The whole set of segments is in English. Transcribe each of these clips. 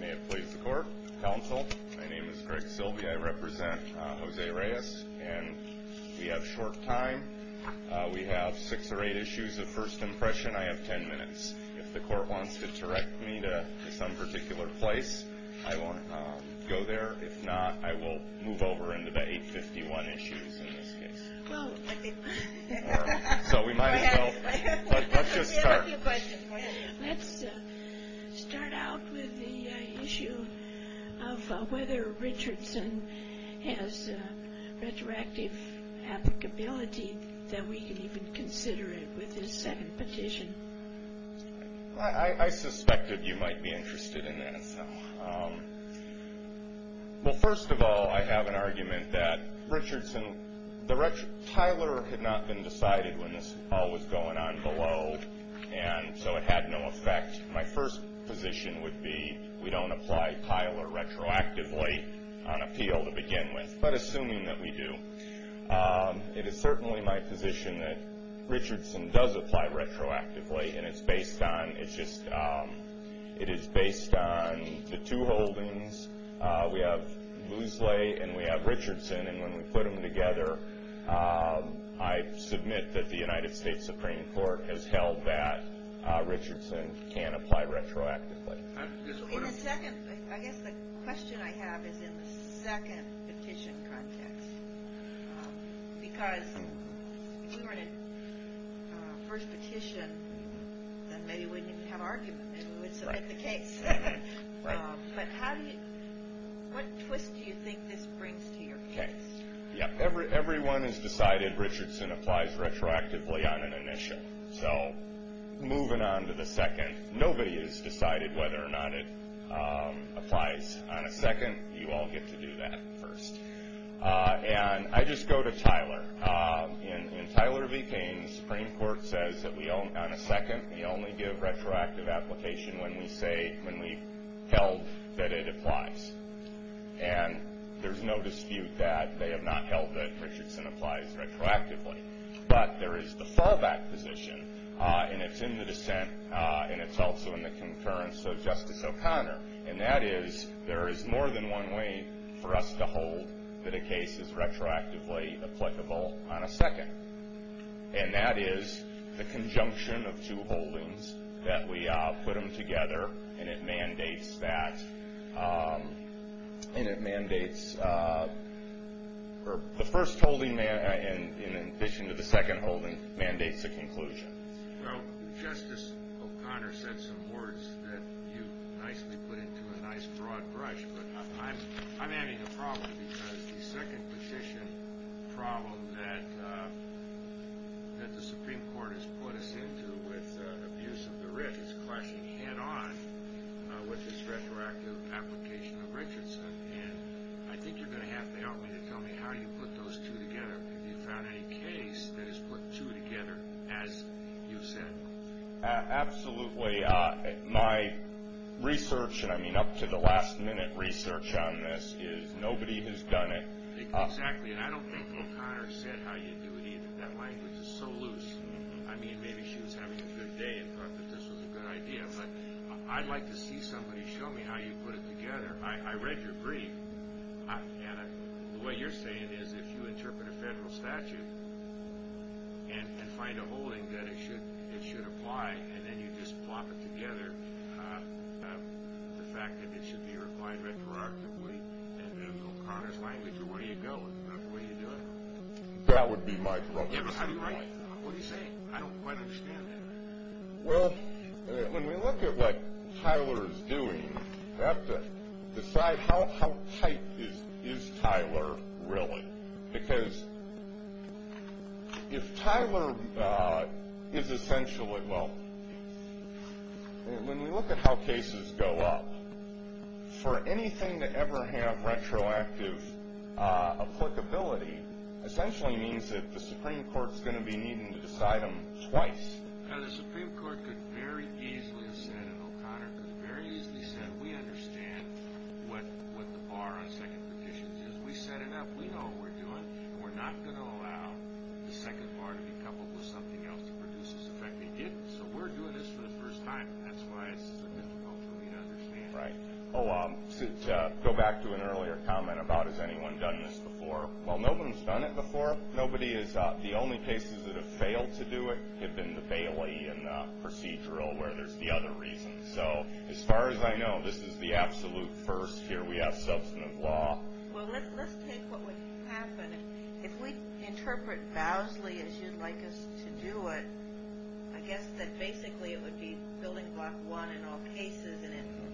May it please the court, counsel, my name is Greg Silbey, I represent Jose Reyes, and we have short time, we have six or eight issues of first impression, I have ten minutes. If the court wants to direct me to some particular place, I will go there, if not, I will move over into the 851 issues in this case. Let's start out with the issue of whether Richardson has retroactive applicability that we can even consider it with his second petition. I suspected you might be interested in that. Well, first of all, I have an argument that Richardson, Tyler had not been decided when this all was going on below, and so it had no effect. My first position would be we don't apply Tyler retroactively on appeal to begin with, but assuming that we do. It is certainly my position that Richardson does apply retroactively, and it's based on, it's just, it is based on the two holdings. We have Loosley and we have Richardson, and when we put them together, I submit that the United States Supreme Court has held that Richardson can apply retroactively. In the second, I guess the question I have is in the second petition context, because if you were in a first petition, then maybe we wouldn't even have an argument. Right. But how do you, what twist do you think this brings to your case? Everyone has decided Richardson applies retroactively on an initial. So, moving on to the second, nobody has decided whether or not it applies on a second. You all get to do that first. And I just go to Tyler. In Tyler v. Payne, the Supreme Court says that on a second, we only give retroactive application when we say, when we've held that it applies. And there's no dispute that they have not held that Richardson applies retroactively. But there is the fallback position, and it's in the dissent, and it's also in the concurrence of Justice O'Connor. And that is, there is more than one way for us to hold that a case is retroactively applicable on a second. And that is the conjunction of two holdings, that we put them together, and it mandates that, and it mandates, or the first holding, in addition to the second holding, mandates a conclusion. Well, Justice O'Connor said some words that you nicely put into a nice, broad brush. But I'm having a problem, because the second petition problem that the Supreme Court has put us into with abuse of the writ is clashing head-on with this retroactive application of Richardson. And I think you're going to have to help me to tell me how you put those two together. Have you found any case that has put two together, as you said? Absolutely. My research, and I mean up to the last-minute research on this, is nobody has done it. Exactly. And I don't think O'Connor said how you do it, either. That language is so loose. I mean, maybe she was having a good day and thought that this was a good idea. But I'd like to see somebody show me how you put it together. I read your brief. And the way you're saying is if you interpret a federal statute and find a holding that it should apply, and then you just plop it together, the fact that it should be applied retroactively, and then O'Connor's language, away you go. Isn't that the way you do it? That would be my problem. Yeah, but how do you write it? What are you saying? I don't quite understand that. Well, when we look at what Tyler is doing, we have to decide how tight is Tyler really? Because if Tyler is essentially, well, when we look at how cases go up, for anything to ever have retroactive applicability, essentially means that the Supreme Court is going to be needing to decide them twice. Now, the Supreme Court could very easily have said, and O'Connor could have very easily said, we understand what the bar on second petitions is. We set it up. We know what we're doing. We're not going to allow the second bar to be coupled with something else to produce this effect. They didn't. So we're doing this for the first time. That's why it's difficult for me to understand. Right. Oh, to go back to an earlier comment about has anyone done this before, well, no one has done it before. Nobody has. The only cases that have failed to do it have been the Bailey and procedural, where there's the other reasons. So as far as I know, this is the absolute first here. We have substantive law. Well, let's take what would happen. If we interpret vowsly as you'd like us to do it, I guess that basically it would be building block one in all cases,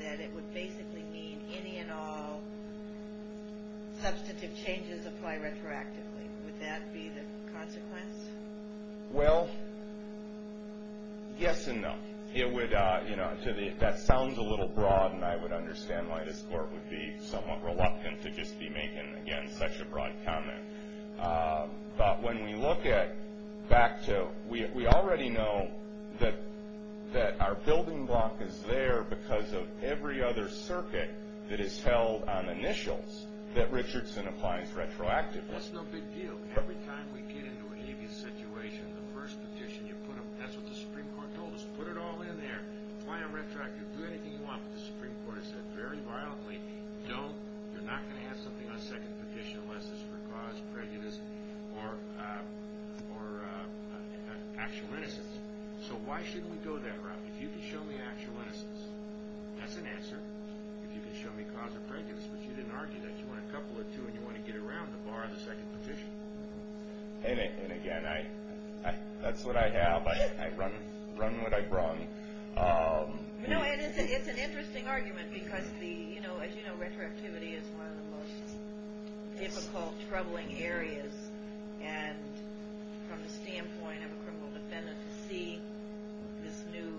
that it would basically mean any and all substantive changes apply retroactively. Would that be the consequence? Well, yes and no. That sounds a little broad, and I would understand why this court would be somewhat reluctant to just be making, again, such a broad comment. But when we look at, back to, we already know that our building block is there because of every other circuit that is held on initials that Richardson applies retroactively. That's no big deal. Every time we get into an aviation situation, the first petition, that's what the Supreme Court told us, put it all in there, apply it retroactively, do anything you want, but the Supreme Court has said very violently, you're not going to have something on a second petition unless it's for cause, prejudice, or actual innocence. So why shouldn't we go that route? If you can show me actual innocence, that's an answer. If you can show me cause of prejudice, but you didn't argue that, you want a couple or two and you want to get around the bar of the second petition. And again, that's what I have. I run what I brung. It's an interesting argument because, as you know, retroactivity is one of the most difficult, troubling areas. And from the standpoint of a criminal defendant, to see this new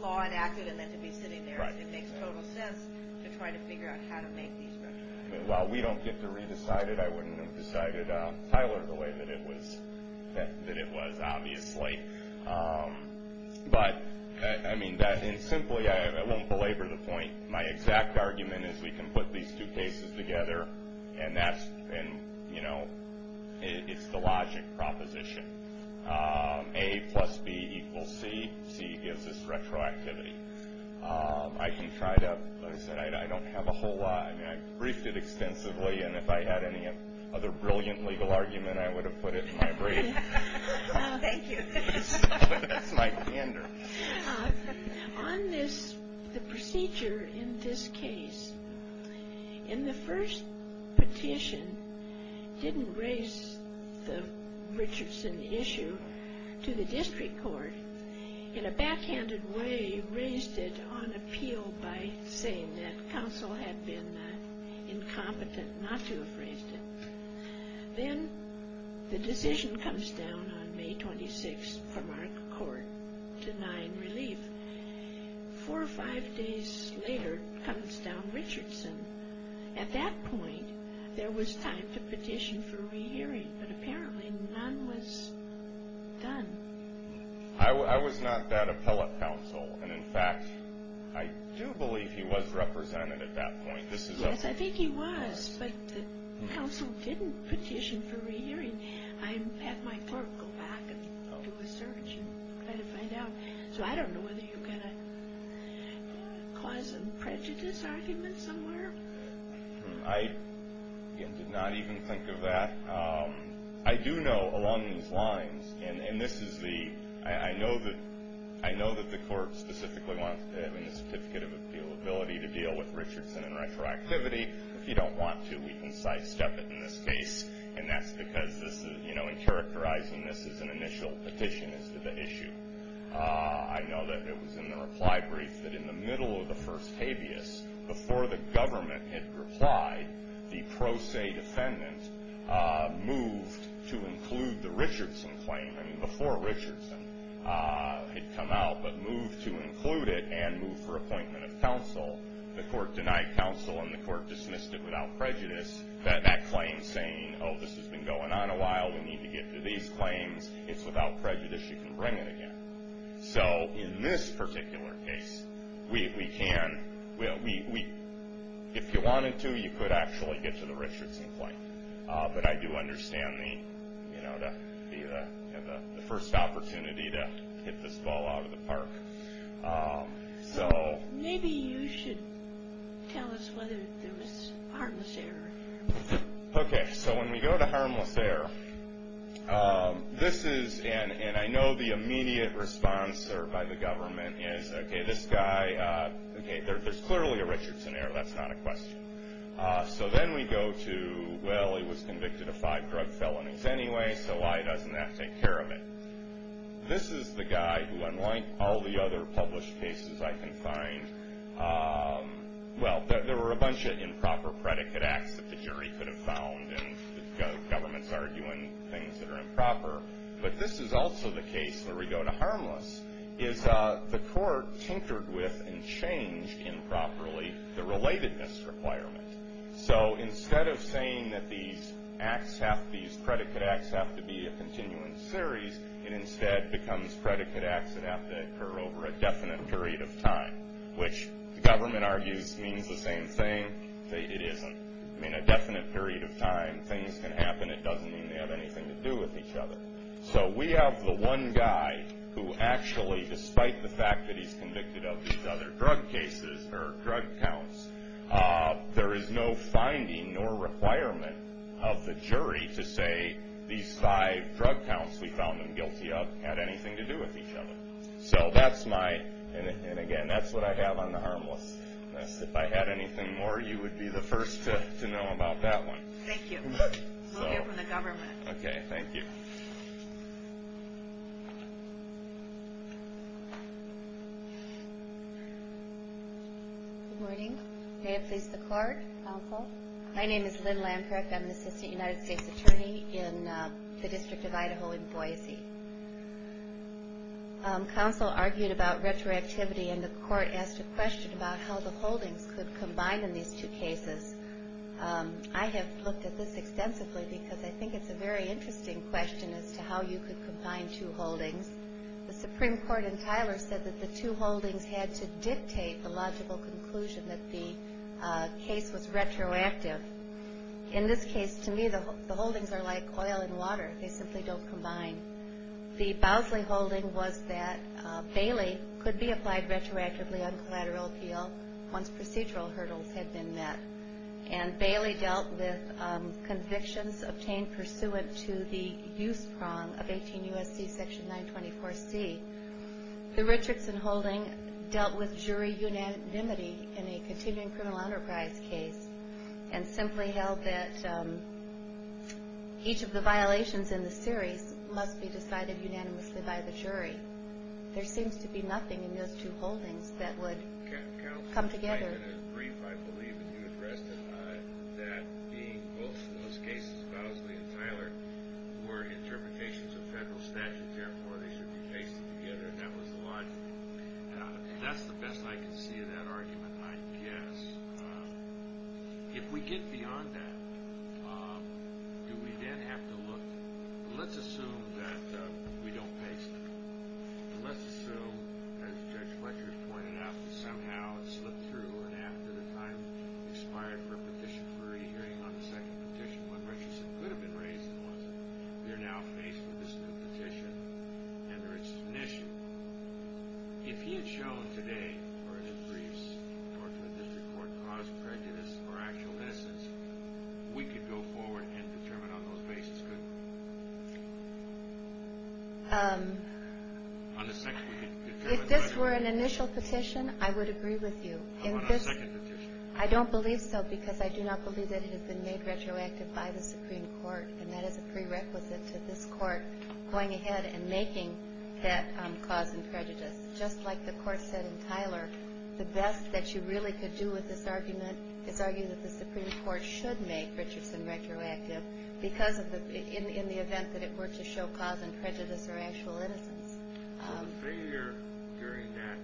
law enacted and then to be sitting there, it makes total sense to try to figure out how to make these retroactive. While we don't get to re-decide it, I wouldn't have decided, Tyler, the way that it was obviously. But, I mean, simply, I won't belabor the point. My exact argument is we can put these two cases together and that's, you know, it's the logic proposition. A plus B equals C. C gives us retroactivity. I can try to, like I said, I don't have a whole lot. I mean, I briefed it extensively, and if I had any other brilliant legal argument, I would have put it in my brief. Thank you. On this, the procedure in this case, in the first petition, didn't raise the Richardson issue to the district court. In a backhanded way, raised it on appeal by saying that counsel had been incompetent not to have raised it. Then the decision comes down on May 26 from our court denying relief. Four or five days later, comes down Richardson. At that point, there was time to petition for re-hearing, but apparently none was done. I was not that appellate counsel, and in fact, I do believe he was represented at that point. Yes, I think he was, but the counsel didn't petition for re-hearing. I had my clerk go back and do a search and try to find out. So I don't know whether you've got a cause and prejudice argument somewhere. I did not even think of that. I do know along these lines, and this is the, I know that the court specifically wants to have a certificate of appealability to deal with Richardson and retroactivity. If you don't want to, we can sidestep it in this case, and that's because this is, you know, in characterizing this as an initial petition as to the issue. I know that it was in the reply brief that in the middle of the first habeas, before the government had replied, the pro se defendant moved to include the Richardson claim. I mean, before Richardson had come out but moved to include it and moved for appointment of counsel, the court denied counsel and the court dismissed it without prejudice. That claim saying, oh, this has been going on a while. We need to get to these claims. It's without prejudice. You can bring it again. So in this particular case, we can. If you wanted to, you could actually get to the Richardson claim, but I do understand the, you know, the first opportunity to hit this ball out of the park. So maybe you should tell us whether there was harmless error. Okay, so when we go to harmless error, this is, and I know the immediate response by the government is, okay, this guy, okay, there's clearly a Richardson error. That's not a question. So then we go to, well, he was convicted of five drug felonies anyway, so why doesn't that take care of it? This is the guy who, unlike all the other published cases I can find, well, there were a bunch of improper predicate acts that the jury could have found and the government's arguing things that are improper, but this is also the case where we go to harmless is the court tinkered with and changed improperly the relatedness requirement. So instead of saying that these predicate acts have to be a continuing series, it instead becomes predicate acts that have to occur over a definite period of time, which the government argues means the same thing. It isn't. I mean, a definite period of time, things can happen. It doesn't mean they have anything to do with each other. So we have the one guy who actually, despite the fact that he's convicted of these other drug cases or drug counts, there is no finding nor requirement of the jury to say these five drug counts, we found them guilty of, had anything to do with each other. So that's my, and again, that's what I have on the harmless. If I had anything more, you would be the first to know about that one. Thank you. We'll hear from the government. Okay, thank you. Good morning. May it please the court. Counsel. My name is Lynn Lampreck. I'm the assistant United States attorney in the District of Idaho in Boise. Counsel argued about retroactivity, and the court asked a question about how the holdings could combine in these two cases. I have looked at this extensively because I think it's a very interesting question as to how you could combine two holdings. The Supreme Court in Tyler said that the two holdings had to dictate the logical conclusion that the case was retroactive. In this case, to me, the holdings are like oil and water. They simply don't combine. The Bosley holding was that Bailey could be applied retroactively on collateral appeal once procedural hurdles had been met, and Bailey dealt with convictions obtained pursuant to the use prong of 18 U.S.C. section 924C. The Richardson holding dealt with jury unanimity in a continuing criminal enterprise case and simply held that each of the violations in the series must be decided unanimously by the jury. There seems to be nothing in those two holdings that would come together. Counsel might have been brief, I believe, when you addressed it that the most cases, Bosley and Tyler, were interpretations of federal statutes. Therefore, they should be pasted together, and that was the logic. That's the best I can see of that argument, I guess. If we get beyond that, do we then have to look? Let's assume that we don't paste them. Let's assume, as Judge Fletcher pointed out, that somehow it slipped through and after the time expired for a petition, for a hearing on the second petition, what Richardson could have been raising was that we are now faced with this new petition, and there is an issue. If he had shown today, or in briefs, or to a district court, cause, prejudice, or actual innocence, we could go forward and determine on those bases, couldn't we? If this were an initial petition, I would agree with you. How about a second petition? I don't believe so because I do not believe that it has been made retroactive by the Supreme Court, and that is a prerequisite to this Court going ahead and making that cause and prejudice. Just like the Court said in Tyler, the best that you really could do with this argument is argue that the Supreme Court should make Richardson retroactive in the event that it were to show cause and prejudice or actual innocence. The failure during that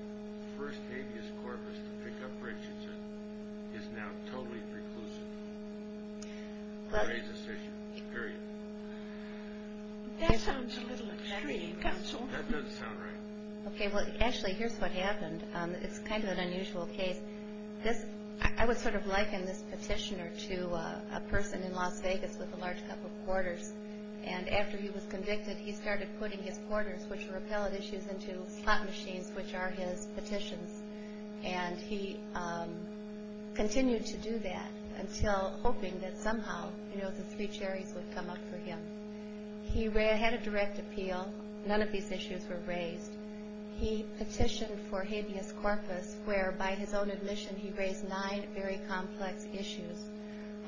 first habeas corpus to pick up Richardson is now totally preclusive. Raise this issue. Period. That sounds a little extreme, Counsel. That does sound right. Actually, here's what happened. It's kind of an unusual case. I would sort of liken this petitioner to a person in Las Vegas with a large cup of quarters, and after he was convicted, he started putting his quarters, which were appellate issues, into slot machines, which are his petitions, and he continued to do that until hoping that somehow the three cherries would come up for him. He had a direct appeal. None of these issues were raised. He petitioned for habeas corpus where, by his own admission, he raised nine very complex issues.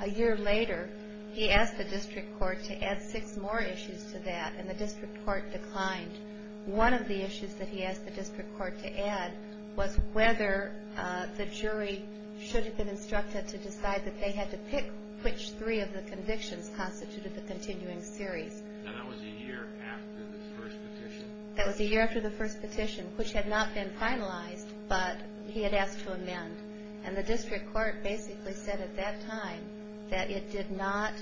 A year later, he asked the district court to add six more issues to that, and the district court declined. One of the issues that he asked the district court to add was whether the jury should have been instructed to decide that they had to pick which three of the convictions constituted the continuing series. And that was a year after the first petition? That was a year after the first petition, which had not been finalized, but he had asked to amend. And the district court basically said at that time that it did not...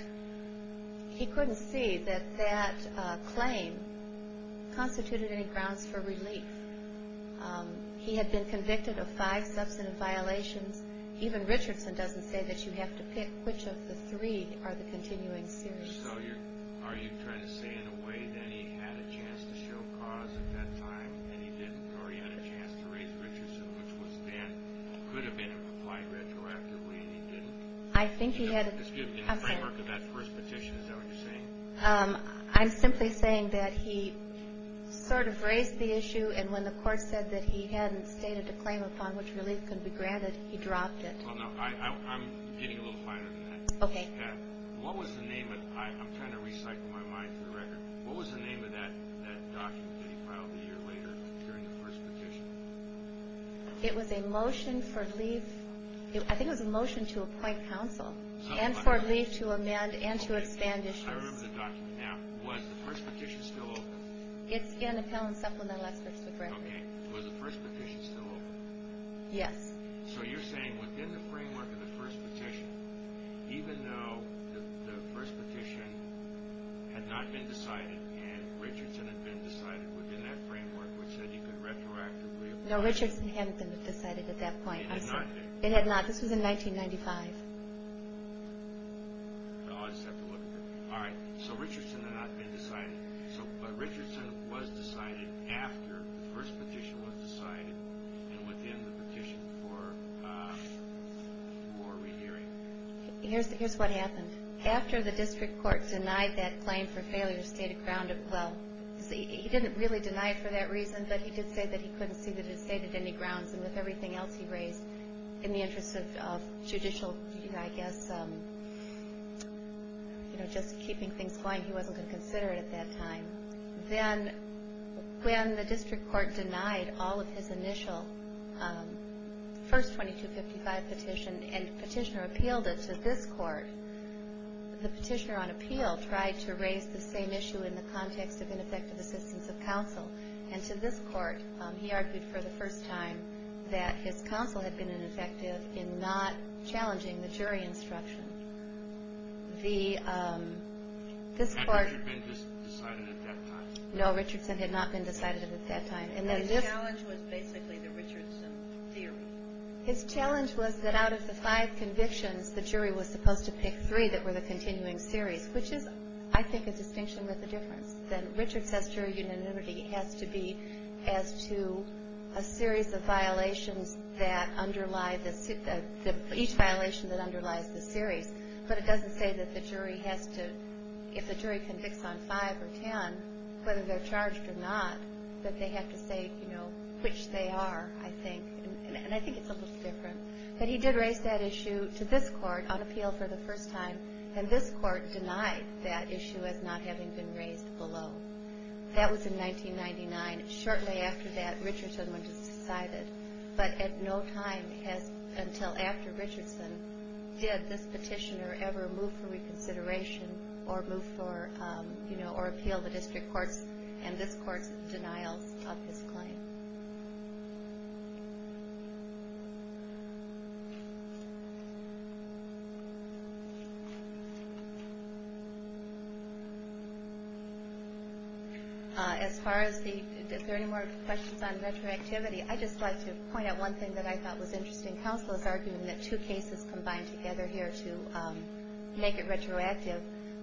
he couldn't see that that claim constituted any grounds for relief. He had been convicted of five substantive violations. Even Richardson doesn't say that you have to pick which of the three are the continuing series. So are you trying to say, in a way, that he had a chance to show cause at that time, and he didn't, or he had a chance to raise Richardson, which was then, could have been applied retroactively, and he didn't? I think he had... Excuse me, in the framework of that first petition, is that what you're saying? I'm simply saying that he sort of raised the issue, and when the court said that he hadn't stated a claim upon which relief could be granted, he dropped it. Oh, no, I'm getting a little finer than that. Okay. What was the name of... I'm trying to recycle my mind through the record. What was the name of that document that he filed a year later during the first petition? It was a motion for relief. I think it was a motion to appoint counsel and for relief to amend and to expand issues. I remember the document now. Was the first petition still open? It's in Appellant Supplemental Experts, the record. Okay. Was the first petition still open? Yes. So you're saying, within the framework of the first petition, even though the first petition had not been decided and Richardson had been decided within that framework, which said he could retroactively apply... No, Richardson hadn't been decided at that point. It had not been? It had not. This was in 1995. Oh, I just have to look at it. All right. So Richardson had not been decided, but Richardson was decided after the first petition was decided and within the petition for more rehearing. Here's what happened. After the district court denied that claim for failure, stated ground... Well, he didn't really deny it for that reason, but he did say that he couldn't see that it stated any grounds, and with everything else he raised in the interest of judicial, I guess, you know, just keeping things going, he wasn't going to consider it at that time. Then when the district court denied all of his initial first 2255 petition and the petitioner appealed it to this court, the petitioner on appeal tried to raise the same issue in the context of ineffective assistance of counsel, and to this court he argued for the first time that his counsel had been ineffective in not challenging the jury instruction. This court... Had this been decided at that time? No, Richardson had not been decided at that time. His challenge was basically the Richardson theory. His challenge was that out of the five convictions, the jury was supposed to pick three that were the continuing series, which is, I think, a distinction with a difference. Richard says jury unanimity has to be as to a series of violations that underlie... But it doesn't say that the jury has to... If the jury convicts on five or ten, whether they're charged or not, that they have to say, you know, which they are, I think. And I think it's a little different. But he did raise that issue to this court on appeal for the first time, and this court denied that issue as not having been raised below. That was in 1999. Shortly after that, Richardson was decided. But at no time until after Richardson did this petitioner ever move for reconsideration or move for, you know, or appeal the district courts, and this court's denials of his claim. As far as the... Is there any more questions on retroactivity? I'd just like to point out one thing that I thought was interesting. Counsel is arguing that two cases combine together here to make it retroactive.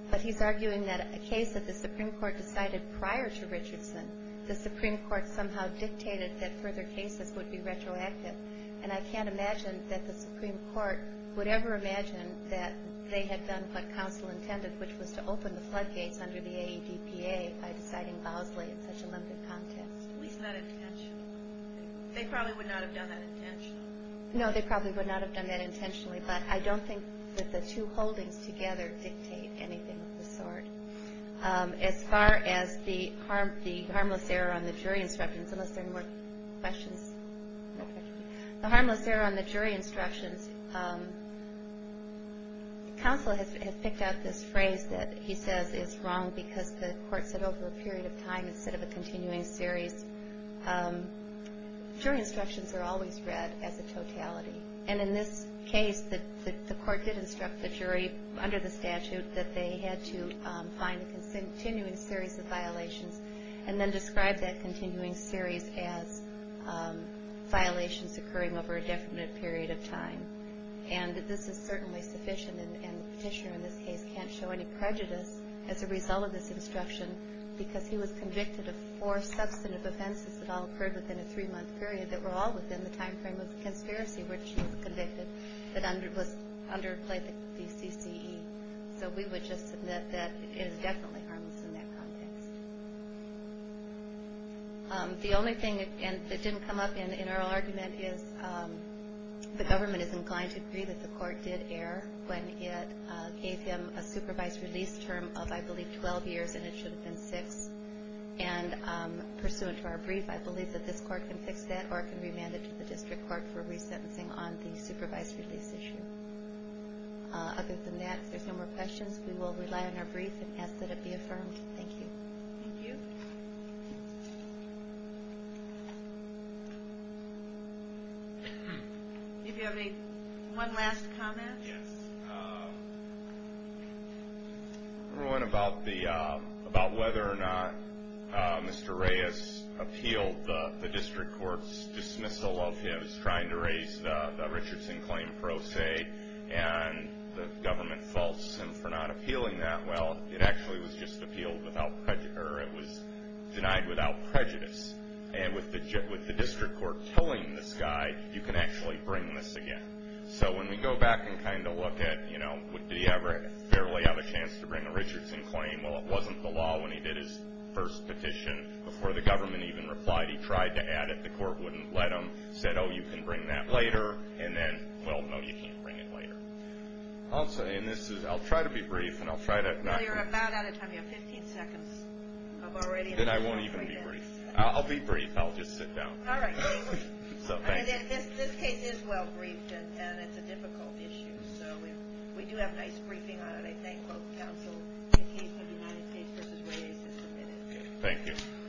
But he's arguing that a case that the Supreme Court decided prior to Richardson, the Supreme Court somehow dictated that further cases would be retroactive. And I can't imagine that the Supreme Court would ever imagine that they had done what Counsel intended, which was to open the floodgates under the AEDPA by deciding Bosley in such a limited context. At least not intentionally. They probably would not have done that intentionally. No, they probably would not have done that intentionally. But I don't think that the two holdings together dictate anything of the sort. As far as the harmless error on the jury instructions, unless there are more questions. The harmless error on the jury instructions, Counsel has picked out this phrase that he says is wrong because the court said over a period of time instead of a continuing series. Jury instructions are always read as a totality. And in this case, the court did instruct the jury under the statute that they had to find a continuing series of violations and then describe that continuing series as violations occurring over a definite period of time. And this is certainly sufficient, and the petitioner in this case can't show any prejudice as a result of this instruction because he was convicted of four substantive offenses that all occurred within a three-month period that were all within the time frame of the conspiracy, which he was convicted that underplayed the CCE. So we would just admit that it is definitely harmless in that context. The only thing that didn't come up in our argument is that the government is inclined to agree that the court did err when it gave him a supervised release term of, I believe, 12 years, and it should have been six. And pursuant to our brief, I believe that this court can fix that or it can remand it to the district court for resentencing on the supervised release issue. Other than that, if there's no more questions, we will rely on our brief and ask that it be affirmed. Thank you. Thank you. Do you have one last comment? Yes. One about whether or not Mr. Reyes appealed the district court's dismissal of his trying to raise the Richardson claim pro se, and the government faults him for not appealing that. Well, it actually was just appealed without prejudice, or it was denied without prejudice. And with the district court killing this guy, you can actually bring this again. So when we go back and kind of look at, you know, do you ever fairly have a chance to bring a Richardson claim? Well, it wasn't the law when he did his first petition. Before the government even replied, he tried to add it. The court wouldn't let him. Said, oh, you can bring that later. And then, well, no, you can't bring it later. I'll try to be brief, and I'll try not to. Well, you're about out of time. You have 15 seconds of already. Then I won't even be brief. I'll be brief. I'll just sit down. All right. So thank you. This case is well briefed, and it's a difficult issue. So we do have a nice briefing on it. I thank both counsel in the case of the United States v. Reyes. Thank you.